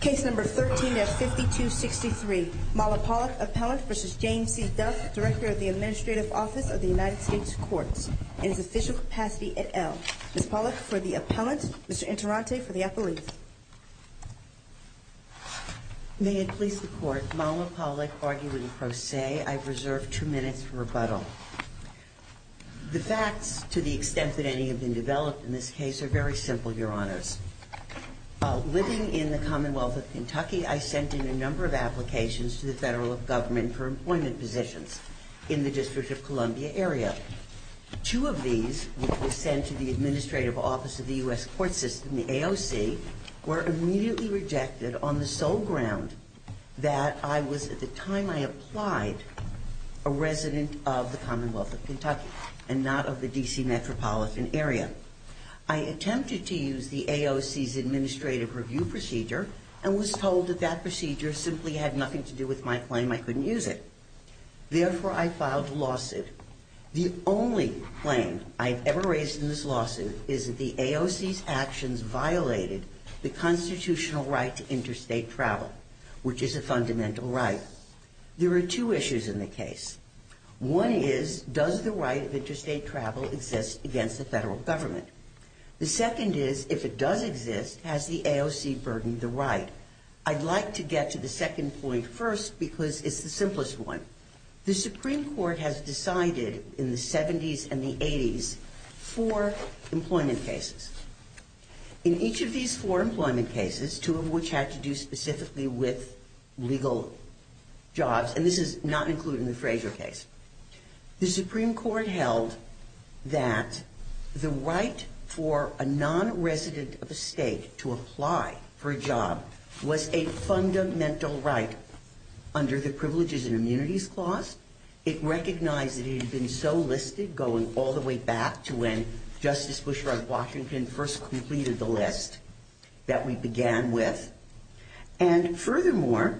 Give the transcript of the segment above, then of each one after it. Case number 13-5263, Malla Pollack, Appellant v. James C. Duff, Director of the Administrative Office of the United States Courts, in his official capacity at Elm. Ms. Pollack for the Appellant, Mr. Interante for the Appellant. May it please the Court, Malla Pollack arguing pro se, I reserve two minutes for rebuttal. The facts, to the extent that any have been developed in this case, are very simple, Your Honors. While living in the Commonwealth of Kentucky, I sent in a number of applications to the federal government for employment positions in the District of Columbia area. Two of these were sent to the Administrative Office of the U.S. Court System, the AOC, were immediately rejected on the sole ground that I was, at the time I applied, a resident of the Commonwealth of Kentucky and not of the D.C. metropolitan area. I attempted to use the AOC's administrative review procedure and was told that that procedure simply had nothing to do with my claim I couldn't use it. Therefore, I filed a lawsuit. The only claim I've ever raised in this lawsuit is that the AOC's actions violated the constitutional right to interstate travel, which is a fundamental right. There are two issues in the case. One is, does the right of interstate travel exist against the federal government? The second is, if it does exist, has the AOC burdened the right? I'd like to get to the second point first because it's the simplest one. The Supreme Court has decided, in the 70s and the 80s, four employment cases. In each of these four employment cases, two of which had to do specifically with legal jobs, and this is not included in the Fraser case, the Supreme Court held that the right for a non-resident of a state to apply for a job was a fundamental right under the Privileges and Immunities Clause. It recognized that it had been so listed, going all the way back to when Justice Bushrod Washington first completed the list that we began with. And furthermore,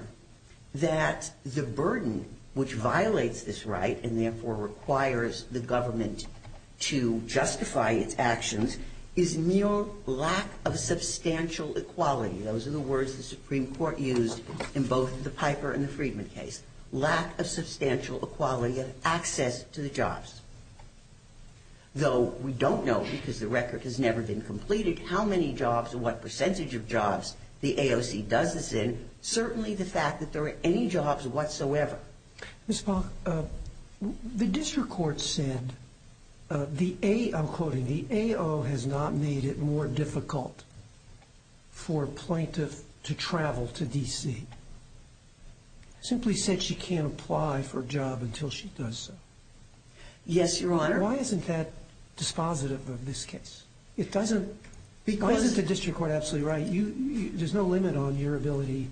that the burden which violates this right and therefore requires the government to justify its actions is mere lack of substantial equality. Those are the words the Supreme Court used in both the Piper and the Friedman case. Lack of substantial equality of access to the jobs. Though we don't know, because the record has never been completed, how many jobs and what percentage of jobs the AOC does this in, certainly the fact that there are any jobs whatsoever. Ms. Polk, the district court said, I'm quoting, the AO has not made it more difficult for a plaintiff to travel to D.C. Simply said she can't apply for a job until she does so. Yes, Your Honor. Why isn't that dispositive of this case? It doesn't, why isn't the district court absolutely right? There's no limit on your ability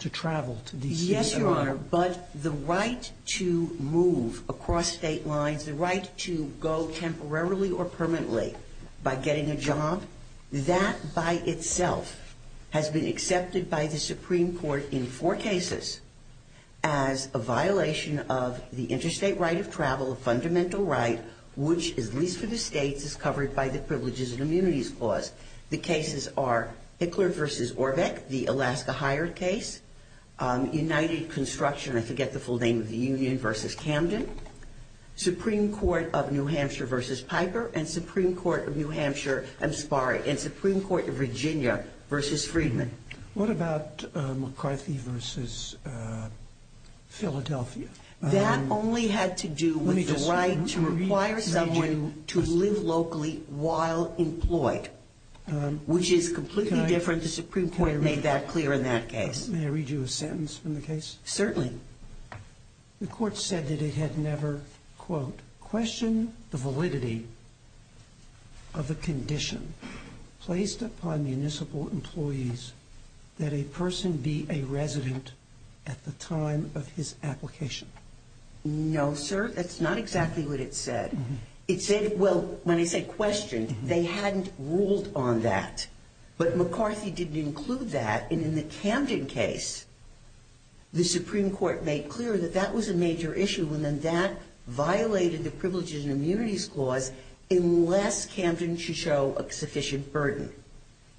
to travel to D.C. Yes, Your Honor, but the right to move across state lines, the right to go temporarily or permanently by getting a job, that by itself has been accepted by the Supreme Court in four cases as a violation of the interstate right of travel, a fundamental right which, at least for the states, is covered by the Privileges and Immunities Clause. The cases are Hickler v. Orbeck, the Alaska hired case. United Construction, I forget the full name of the union, v. Camden. Supreme Court of New Hampshire v. Piper and Supreme Court of New Hampshire, I'm sorry, and Supreme Court of Virginia v. Friedman. What about McCarthy v. Philadelphia? That only had to do with the right to require someone to live locally while employed, which is completely different. The Supreme Court made that clear in that case. May I read you a sentence from the case? Certainly. The court said that it had never, quote, No, sir, that's not exactly what it said. It said, well, when I say questioned, they hadn't ruled on that. But McCarthy didn't include that. And in the Camden case, the Supreme Court made clear that that was a major issue, and then that violated the Privileges and Immunities Clause unless Camden should show a sufficient burden.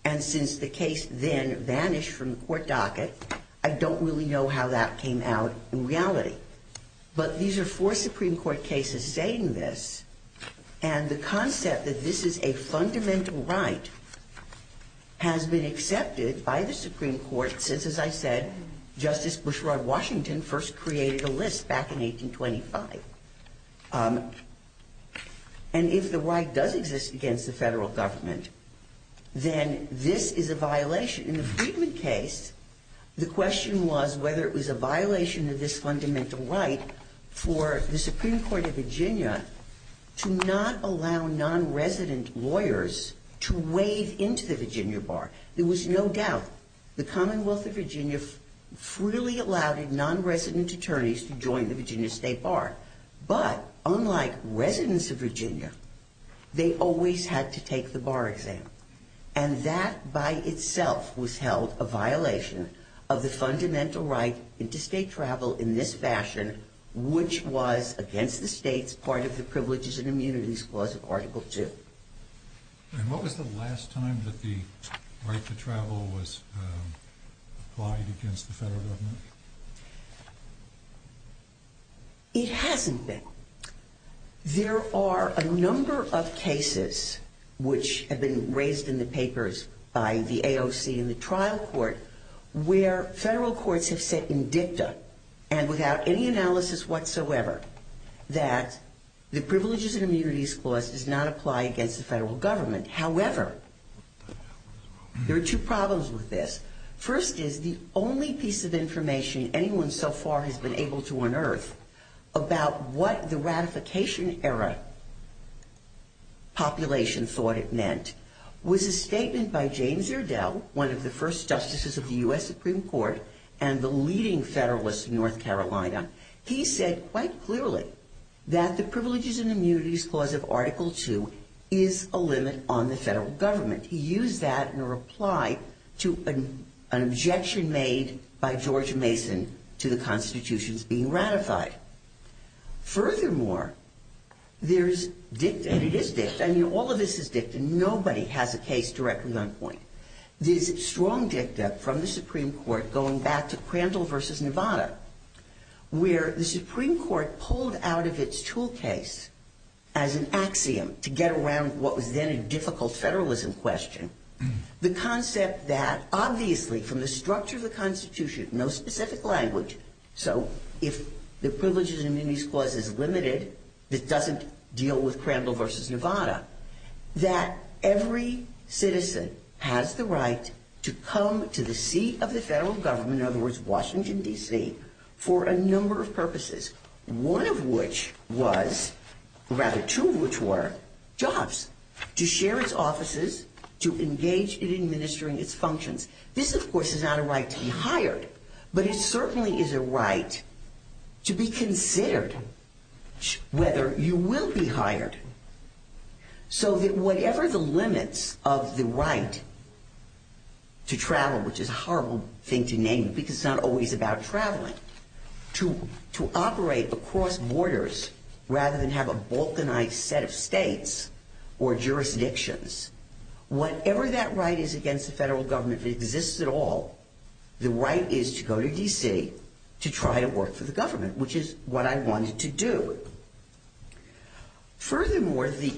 And since the case then vanished from the court docket, I don't really know how that came out in reality. But these are four Supreme Court cases saying this, and the concept that this is a fundamental right has been accepted by the Supreme Court since, as I said, Justice Bushrod Washington first created a list back in 1825. And if the right does exist against the Federal Government, then this is a violation. In the Friedman case, the question was whether it was a violation of this fundamental right for the Supreme Court of Virginia to not allow nonresident lawyers to wade into the Virginia Bar. There was no doubt the Commonwealth of Virginia freely allowed nonresident attorneys to join the Virginia State Bar. But unlike residents of Virginia, they always had to take the bar exam. And that by itself was held a violation of the fundamental right into state travel in this fashion, which was against the state's part of the Privileges and Immunities Clause of Article II. And what was the last time that the right to travel was applied against the Federal Government? It hasn't been. There are a number of cases, which have been raised in the papers by the AOC and the trial court, where Federal courts have said in dicta and without any analysis whatsoever that the Privileges and Immunities Clause does not apply against the Federal Government. However, there are two problems with this. First is the only piece of information anyone so far has been able to unearth about what the ratification-era population thought it meant was a statement by James Urdell, one of the first justices of the U.S. Supreme Court and the leading Federalist in North Carolina. He said quite clearly that the Privileges and Immunities Clause of Article II is a limit on the Federal Government. He used that in a reply to an objection made by George Mason to the Constitution's being ratified. Furthermore, there's dicta, and it is dicta. I mean, all of this is dicta. Nobody has a case directly on point. There's strong dicta from the Supreme Court going back to Crandall v. Nevada, where the Supreme Court pulled out of its tool case as an axiom to get around what was then a difficult Federalism question, the concept that obviously from the structure of the Constitution, no specific language, so if the Privileges and Immunities Clause is limited, it doesn't deal with Crandall v. Nevada, that every citizen has the right to come to the seat of the Federal Government, in other words, Washington, D.C., for a number of purposes, one of which was, or rather two of which were, jobs, to share its offices, to engage in administering its functions. This, of course, is not a right to be hired, but it certainly is a right to be considered whether you will be hired, so that whatever the limits of the right to travel, which is a horrible thing to name because it's not always about traveling, to operate across borders rather than have a balkanized set of states or jurisdictions, whatever that right is against the Federal Government if it exists at all, the right is to go to D.C. to try to work for the government, which is what I wanted to do. Furthermore, the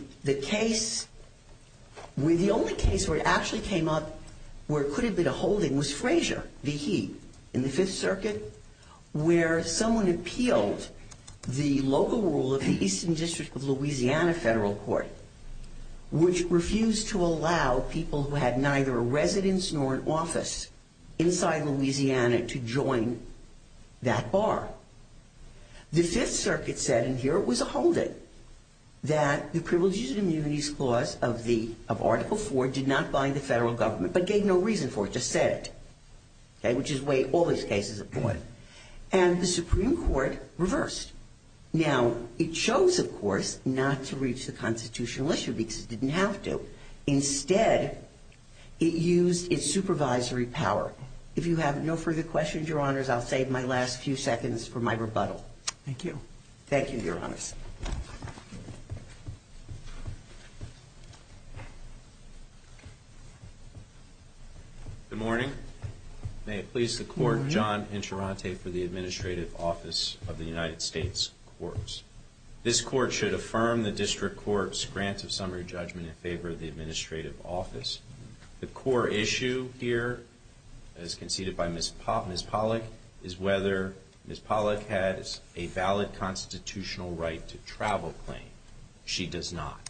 only case where it actually came up where it could have been a holding was Frazier v. He, in the Fifth Circuit, where someone appealed the local rule of the Eastern District of Louisiana Federal Court, which refused to allow people who had neither a residence nor an office inside Louisiana to join that bar. The Fifth Circuit said, and here it was a holding, that the Privileges and Immunities Clause of Article 4 did not bind the Federal Government, but gave no reason for it, just said it, which is the way all these cases are going. And the Supreme Court reversed. Now, it chose, of course, not to reach the constitutional issue because it didn't have to. Instead, it used its supervisory power. If you have no further questions, Your Honors, I'll save my last few seconds for my rebuttal. Thank you. Thank you, Your Honors. Good morning. May it please the Court, John Insurante for the Administrative Office of the United States Courts. This Court should affirm the District Court's grant of summary judgment in favor of the Administrative Office. The core issue here, as conceded by Ms. Pollack, is whether Ms. Pollack has a valid constitutional right to travel claim. She does not.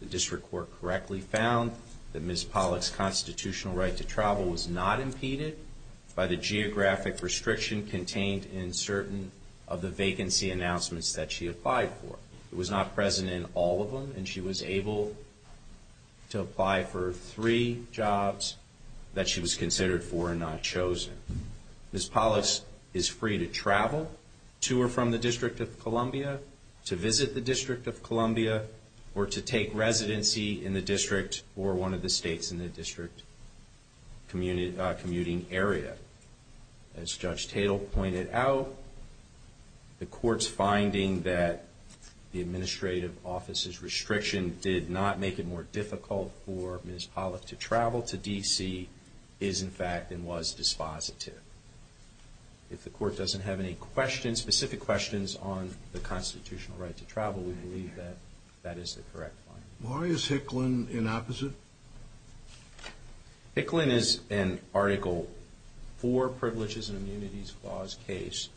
The District Court correctly found that Ms. Pollack's constitutional right to travel was not impeded by the geographic restriction contained in certain of the vacancy announcements that she applied for. It was not present in all of them, and she was able to apply for three jobs that she was considered for and not chosen. Ms. Pollack is free to travel to or from the District of Columbia, to visit the District of Columbia, or to take residency in the district or one of the states in the district commuting area. As Judge Tatel pointed out, the Court's finding that the Administrative Office's restriction did not make it more difficult for Ms. Pollack to travel to D.C. is, in fact, and was dispositive. If the Court doesn't have any questions, specific questions, on the constitutional right to travel, we believe that that is the correct finding. Why is Hicklin in opposite? Hicklin is in Article IV, Privileges and Immunities Clause case.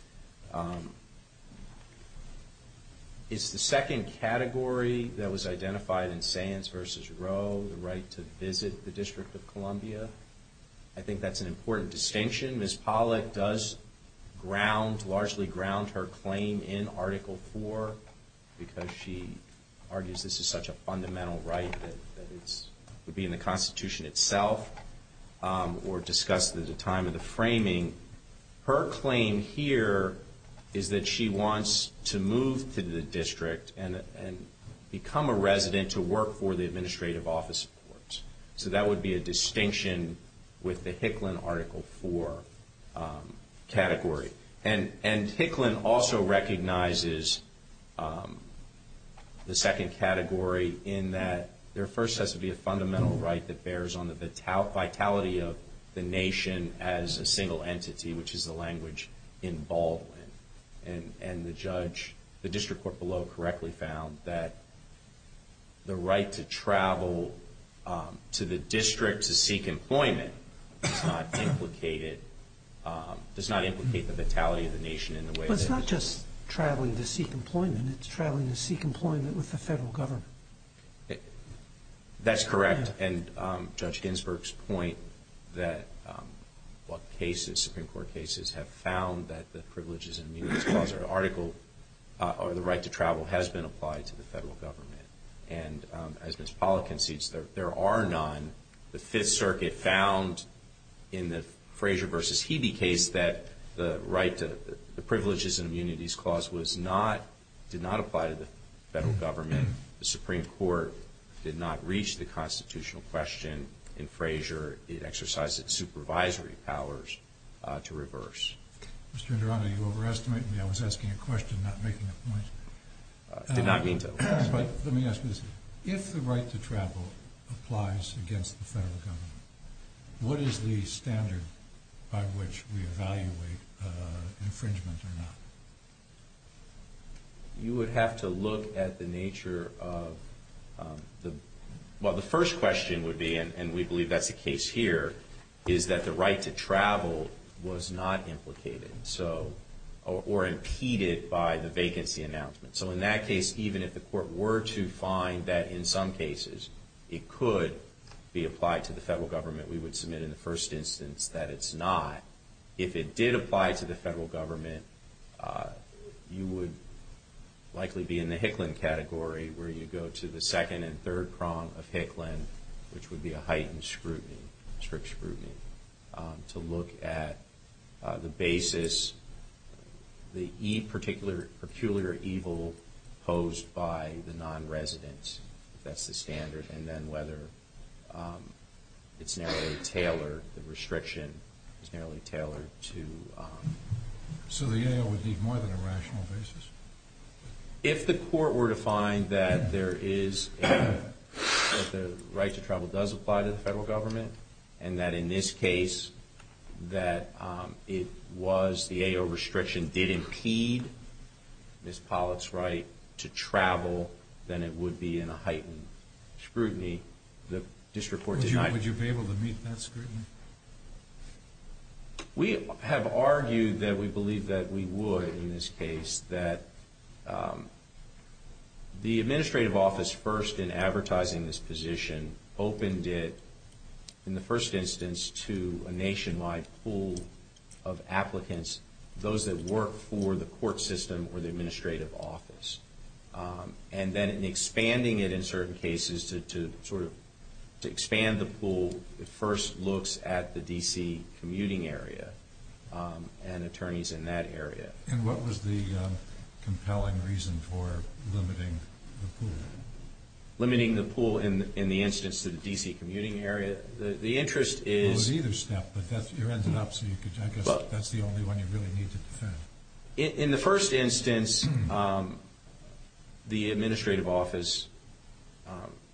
It's the second category that was identified in Sands v. Roe, the right to visit the District of Columbia. I think that's an important distinction. Ms. Pollack does ground, largely ground, her claim in Article IV, because she argues this is such a fundamental right that it would be in the Constitution itself, or discussed at the time of the framing. Her claim here is that she wants to move to the district and become a resident to work for the Administrative Office of Courts. So that would be a distinction with the Hicklin Article IV category. And Hicklin also recognizes the second category in that there first has to be a fundamental right that bears on the vitality of the nation as a single entity, which is the language in Baldwin. And the judge, the district court below, correctly found that the right to travel to the district to seek employment does not implicate the vitality of the nation in the way that it is. But it's not just traveling to seek employment. It's traveling to seek employment with the federal government. That's correct. And Judge Ginsburg's point that cases, Supreme Court cases, have found that the Privileges and Immunities Clause or the right to travel has been applied to the federal government. And as Ms. Pollack concedes, there are none. The Fifth Circuit found in the Frazier v. Hebe case that the right to the Privileges and Immunities Clause was not, did not apply to the federal government. The Supreme Court did not reach the constitutional question in Frazier. It exercised its supervisory powers to reverse. Mr. Indrana, you overestimate me. I was asking a question, not making a point. I did not mean to. Let me ask you this. If the right to travel applies against the federal government, what is the standard by which we evaluate infringement or not? You would have to look at the nature of the, well, the first question would be, and we believe that's the case here, is that the right to travel was not implicated or impeded by the vacancy announcement. So in that case, even if the court were to find that in some cases it could be applied to the federal government, we would submit in the first instance that it's not. If it did apply to the federal government, you would likely be in the Hicklin category, where you go to the second and third prong of Hicklin, which would be a heightened scrutiny, strict scrutiny, to look at the basis, the peculiar evil posed by the nonresident, if that's the standard, and then whether it's narrowly tailored, the restriction is narrowly tailored to. So the AO would need more than a rational basis? If the court were to find that there is a, that the right to travel does apply to the federal government and that in this case that it was the AO restriction did impede Ms. Pollack's right to travel, then it would be in a heightened scrutiny. The district court denied it. Would you be able to meet that scrutiny? We have argued that we believe that we would in this case, that the administrative office first in advertising this position opened it in the first instance to a nationwide pool of applicants, those that work for the court system or the administrative office. And then in expanding it in certain cases to sort of expand the pool, it first looks at the D.C. commuting area and attorneys in that area. And what was the compelling reason for limiting the pool? Limiting the pool in the instance to the D.C. commuting area. The interest is – It was either step, but you ended up so you could – I guess that's the only one you really need to defend. In the first instance, the administrative office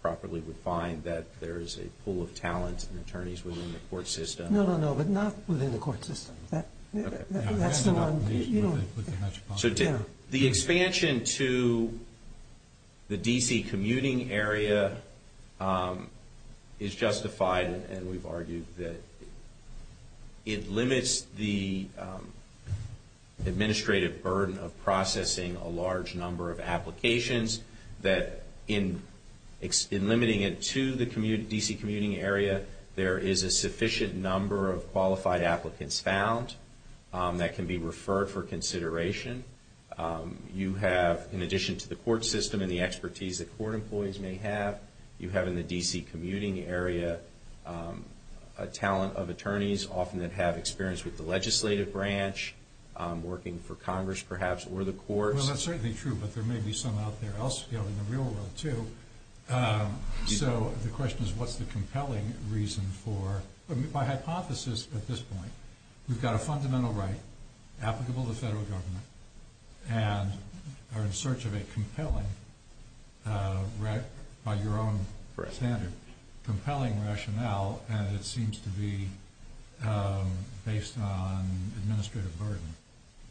properly would find that there is a pool of talent and attorneys within the court system. No, no, no, but not within the court system. That's not – So the expansion to the D.C. commuting area is justified, and we've argued that it limits the administrative burden of processing a large number of applications, that in limiting it to the D.C. commuting area, there is a sufficient number of qualified applicants found that can be referred for consideration. You have, in addition to the court system and the expertise that court employees may have, you have in the D.C. commuting area a talent of attorneys, often that have experience with the legislative branch, working for Congress perhaps or the courts. Well, that's certainly true, but there may be some out there elsewhere in the real world, too. So the question is, what's the compelling reason for – by hypothesis at this point, we've got a fundamental right applicable to federal government and are in search of a compelling, by your own standard, compelling rationale, and it seems to be based on administrative burden.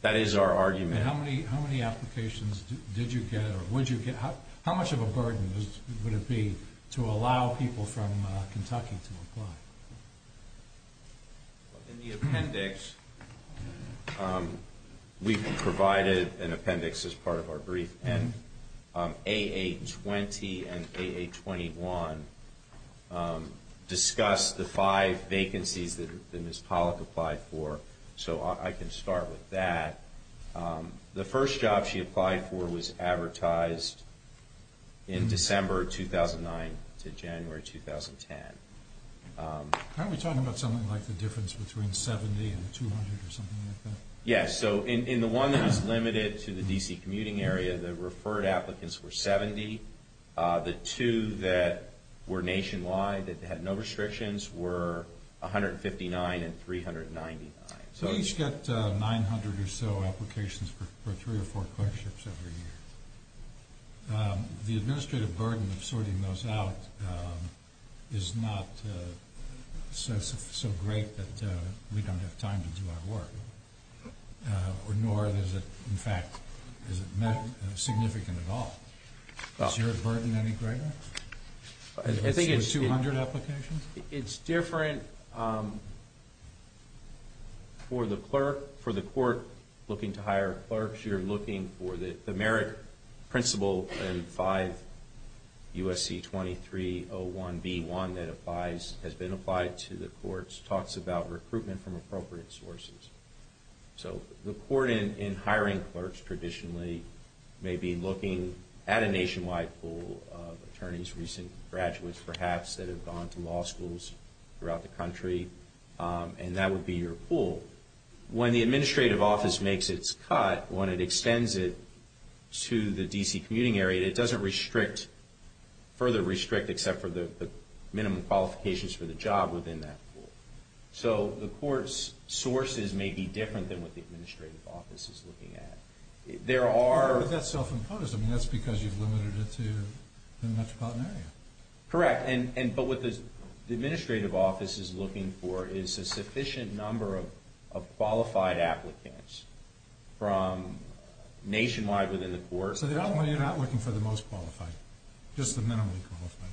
That is our argument. How many applications did you get or would you get? How much of a burden would it be to allow people from Kentucky to apply? In the appendix, we provided an appendix as part of our brief, and A.A. 20 and A.A. 21 discuss the five vacancies that Ms. Pollack applied for. So I can start with that. The first job she applied for was advertised in December 2009 to January 2010. Aren't we talking about something like the difference between 70 and 200 or something like that? Yes. So in the one that was limited to the D.C. commuting area, the referred applicants were 70. The two that were nationwide that had no restrictions were 159 and 399. So each got 900 or so applications for three or four clerkships every year. The administrative burden of sorting those out is not so great that we don't have time to do our work, nor is it, in fact, significant at all. Is your burden any greater? I think it's different for the court looking to hire clerks. You're looking for the merit principle in 5 U.S.C. 2301B1 that has been applied to the courts, which talks about recruitment from appropriate sources. So the court in hiring clerks traditionally may be looking at a nationwide pool of attorneys, recent graduates perhaps that have gone to law schools throughout the country, and that would be your pool. When the administrative office makes its cut, when it extends it to the D.C. commuting area, it doesn't further restrict except for the minimum qualifications for the job within that pool. So the court's sources may be different than what the administrative office is looking at. But that's self-imposed. I mean, that's because you've limited it to the metropolitan area. Correct, but what the administrative office is looking for is a sufficient number of qualified applicants from nationwide within the court. So you're not looking for the most qualified, just the minimally qualified?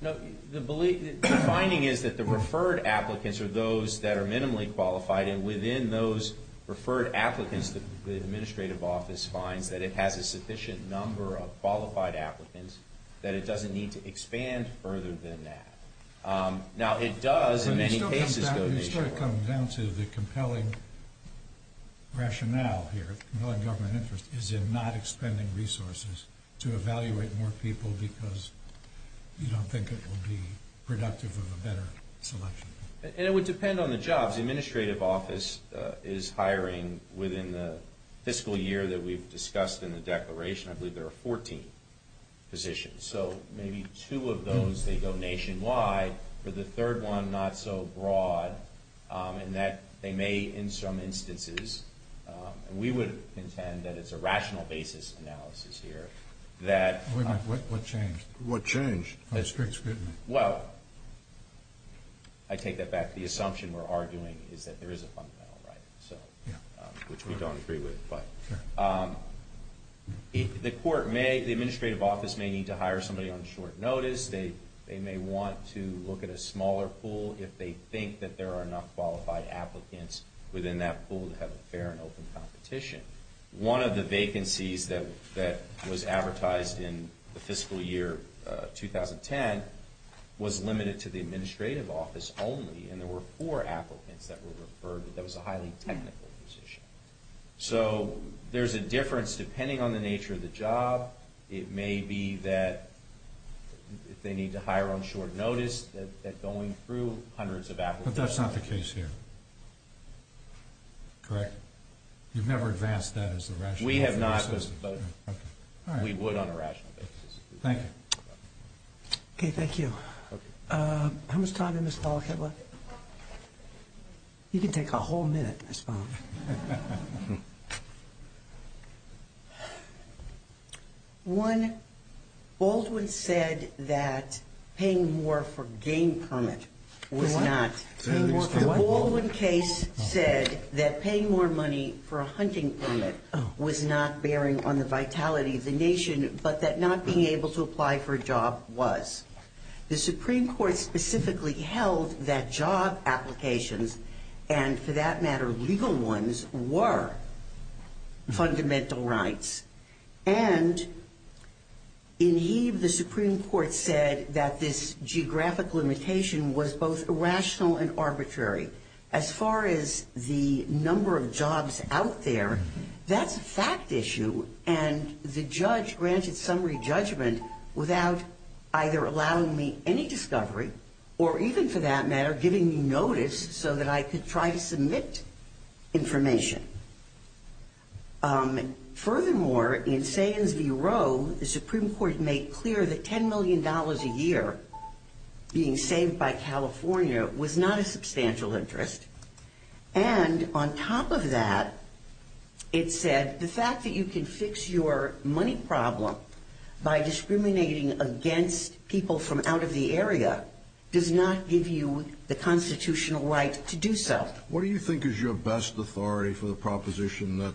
No. The finding is that the referred applicants are those that are minimally qualified, and within those referred applicants the administrative office finds that it has a sufficient number of qualified applicants, that it doesn't need to expand further than that. Now, it does in many cases go nationwide. I'm just trying to come down to the compelling rationale here, compelling government interest, is in not expending resources to evaluate more people because you don't think it will be productive of a better selection. And it would depend on the jobs. The administrative office is hiring within the fiscal year that we've discussed in the declaration. I believe there are 14 positions. So maybe two of those, they go nationwide. For the third one, not so broad, in that they may, in some instances, and we would intend that it's a rational basis analysis here. Wait a minute. What changed? What changed? Well, I take that back. The assumption we're arguing is that there is a fundamental right, which we don't agree with. The administrative office may need to hire somebody on short notice. They may want to look at a smaller pool if they think that there are enough qualified applicants within that pool to have a fair and open competition. One of the vacancies that was advertised in the fiscal year 2010 was limited to the administrative office only, and there were four applicants that were referred, but that was a highly technical position. So there's a difference depending on the nature of the job. It may be that they need to hire on short notice, that going through hundreds of applicants. But that's not the case here, correct? You've never advanced that as a rational basis? We have not, but we would on a rational basis. Thank you. Okay, thank you. How much time did Ms. Pollack have left? You can take a whole minute, Ms. Pollack. One, Baldwin said that paying more for a game permit was not. The Baldwin case said that paying more money for a hunting permit was not bearing on the vitality of the nation, but that not being able to apply for a job was. The Supreme Court specifically held that job applications, and for that matter legal ones, were fundamental rights. And in heave, the Supreme Court said that this geographic limitation was both irrational and arbitrary. As far as the number of jobs out there, that's a fact issue, and the judge granted summary judgment without either allowing me any discovery or even, for that matter, giving me notice so that I could try to submit information. Furthermore, in Sands v. Roe, the Supreme Court made clear that $10 million a year being saved by California was not a substantial interest. And on top of that, it said the fact that you can fix your money problem by discriminating against people from out of the area does not give you the constitutional right to do so. What do you think is your best authority for the proposition that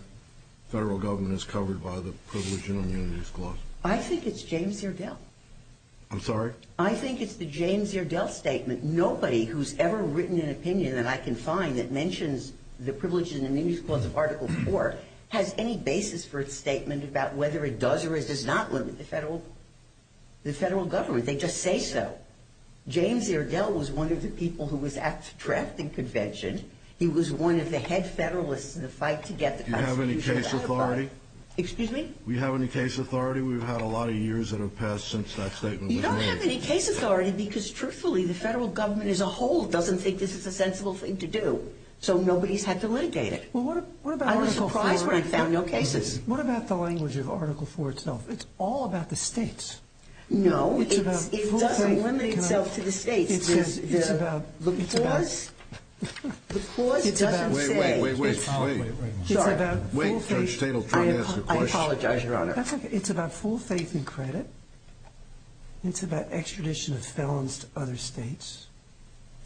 federal government is covered by the Privilege and Immunities Clause? I think it's James Iredell. I'm sorry? I think it's the James Iredell statement. Nobody who's ever written an opinion that I can find that mentions the Privilege and Immunities Clause of Article IV has any basis for a statement about whether it does or it does not limit the federal government. They just say so. James Iredell was one of the people who was at the drafting convention. He was one of the head federalists in the fight to get the Constitution passed. Do you have any case authority? Excuse me? Do you have any case authority? We've had a lot of years that have passed since that statement was made. You don't have any case authority because, truthfully, the federal government as a whole doesn't think this is a sensible thing to do, so nobody's had to litigate it. Well, what about Article IV? I was surprised when I found no cases. What about the language of Article IV itself? It's all about the states. No, it doesn't limit itself to the states. It's about full faith. The clause doesn't say... Wait, wait, wait, wait. Sorry. Wait, Judge Tate will try to ask a question. I apologize, Your Honor. It's about full faith and credit. It's about extradition of felons to other states.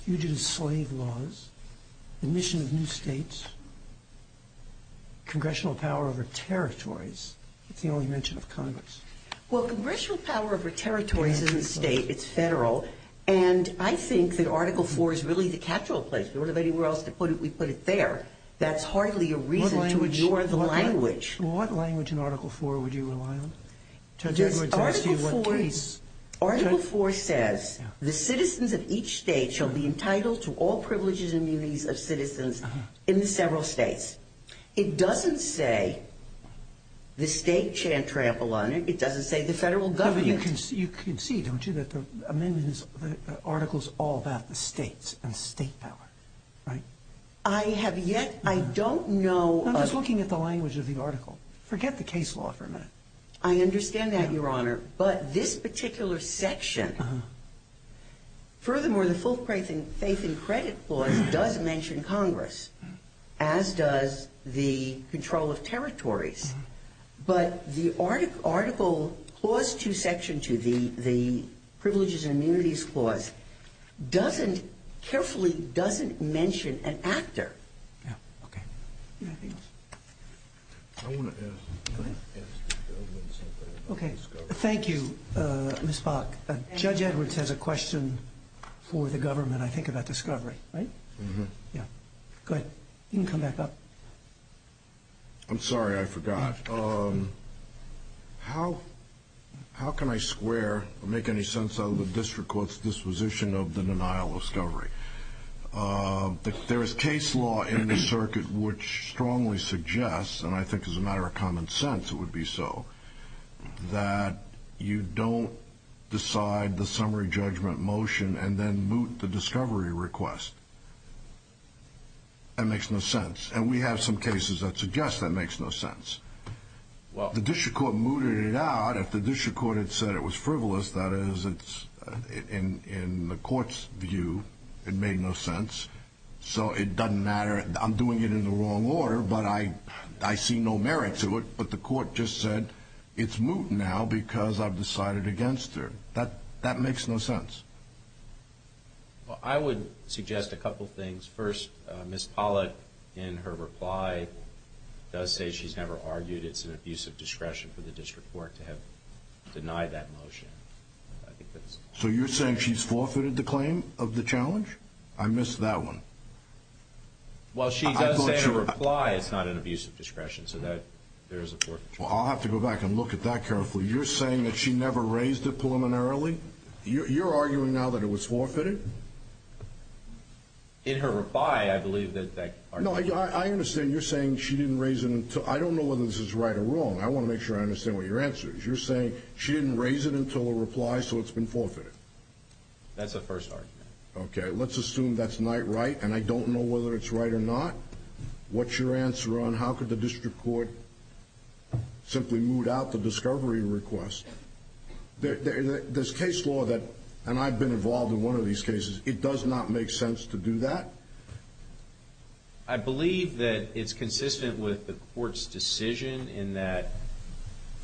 You do slave laws. Admission of new states. Congressional power over territories. It's the only mention of Congress. Well, congressional power over territories isn't state. It's federal. And I think that Article IV is really the capital place. We don't have anywhere else to put it. We put it there. That's hardly a reason to ignore the language. What language in Article IV would you rely on? Judge Edwards asked you what case. Article IV says the citizens of each state shall be entitled to all privileges and duties of citizens in the several states. It doesn't say the state shan't trample on it. It doesn't say the federal government. You can see, don't you, that the amendment is articles all about the states and state power, right? I have yet. I don't know. I'm just looking at the language of the article. Forget the case law for a minute. I understand that, Your Honor. But this particular section, furthermore, the full faith and credit clause does mention Congress, as does the control of territories. But the article, Clause 2, Section 2, the Privileges and Immunities Clause, doesn't, carefully doesn't mention an actor. Yeah, okay. Anything else? I want to ask the government something about discovery. Okay. Thank you, Ms. Bach. Judge Edwards has a question for the government, I think, about discovery, right? Mm-hmm. Yeah. Go ahead. You can come back up. I'm sorry. I forgot. How can I square or make any sense out of the district court's disposition of the denial of discovery? There is case law in the circuit which strongly suggests, and I think as a matter of common sense it would be so, that you don't decide the summary judgment motion and then moot the discovery request. That makes no sense. And we have some cases that suggest that makes no sense. The district court mooted it out. If the district court had said it was frivolous, that is, in the court's view, it made no sense. So it doesn't matter. I'm doing it in the wrong order, but I see no merit to it. But the court just said it's moot now because I've decided against her. That makes no sense. Well, I would suggest a couple things. First, Ms. Pollitt, in her reply, does say she's never argued it's an abusive discretion for the district court to have denied that motion. So you're saying she's forfeited the claim of the challenge? I missed that one. Well, she does say in her reply it's not an abusive discretion, so there is a forfeiture. Well, I'll have to go back and look at that carefully. You're saying that she never raised it preliminarily? You're arguing now that it was forfeited? In her reply, I believe that argument. No, I understand. You're saying she didn't raise it until ‑‑ I don't know whether this is right or wrong. I want to make sure I understand what your answer is. You're saying she didn't raise it until her reply, so it's been forfeited? That's the first argument. Okay. Let's assume that's night right, and I don't know whether it's right or not. What's your answer on how could the district court simply moot out the discovery request? There's case law that ‑‑ and I've been involved in one of these cases. It does not make sense to do that? I believe that it's consistent with the court's decision in that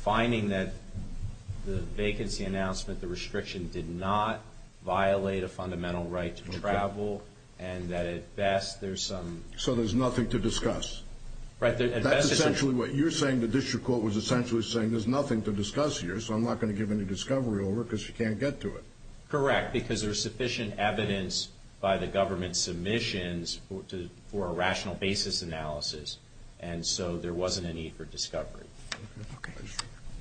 finding that the vacancy announcement, the restriction did not violate a fundamental right to travel and that at best there's some ‑‑ So there's nothing to discuss? Right. That's essentially what you're saying. You're saying the district court was essentially saying there's nothing to discuss here, so I'm not going to give any discovery over because she can't get to it. Correct, because there's sufficient evidence by the government submissions for a rational basis analysis, and so there wasn't a need for discovery. Okay.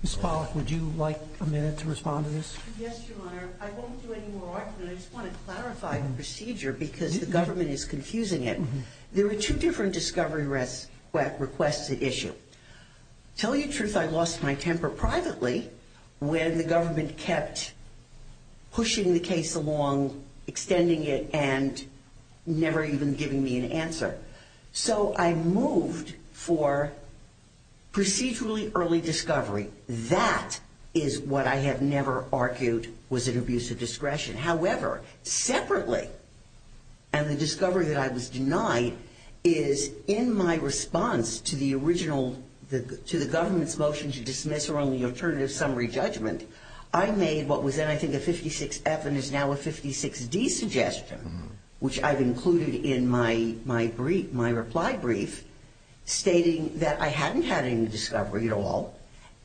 Ms. Pollack, would you like a minute to respond to this? Yes, Your Honor. I won't do any more argument. I just want to clarify the procedure because the government is confusing it. There were two different discovery requests at issue. To tell you the truth, I lost my temper privately when the government kept pushing the case along, extending it, and never even giving me an answer. So I moved for procedurally early discovery. That is what I have never argued was an abuse of discretion. However, separately, and the discovery that I was denied is in my response to the original, to the government's motion to dismiss around the alternative summary judgment, I made what was then I think a 56F and is now a 56D suggestion, which I've included in my reply brief, stating that I hadn't had any discovery at all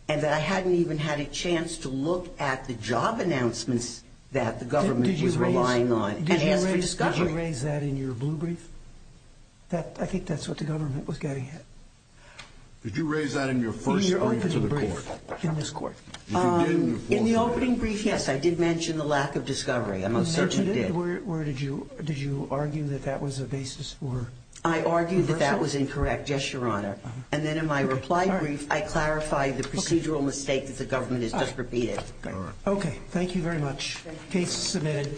and that I hadn't even had a chance to look at the job announcements that the government was relying on and ask for discovery. Did you raise that in your blue brief? I think that's what the government was getting at. Did you raise that in your first brief to the court? In your opening brief in this court. In the opening brief, yes, I did mention the lack of discovery. I most certainly did. You mentioned it? Did you argue that that was a basis for reversal? I argued that that was incorrect, yes, Your Honor. And then in my reply brief, I clarify the procedural mistake that the government has just repeated. Okay. Thank you very much. Case submitted.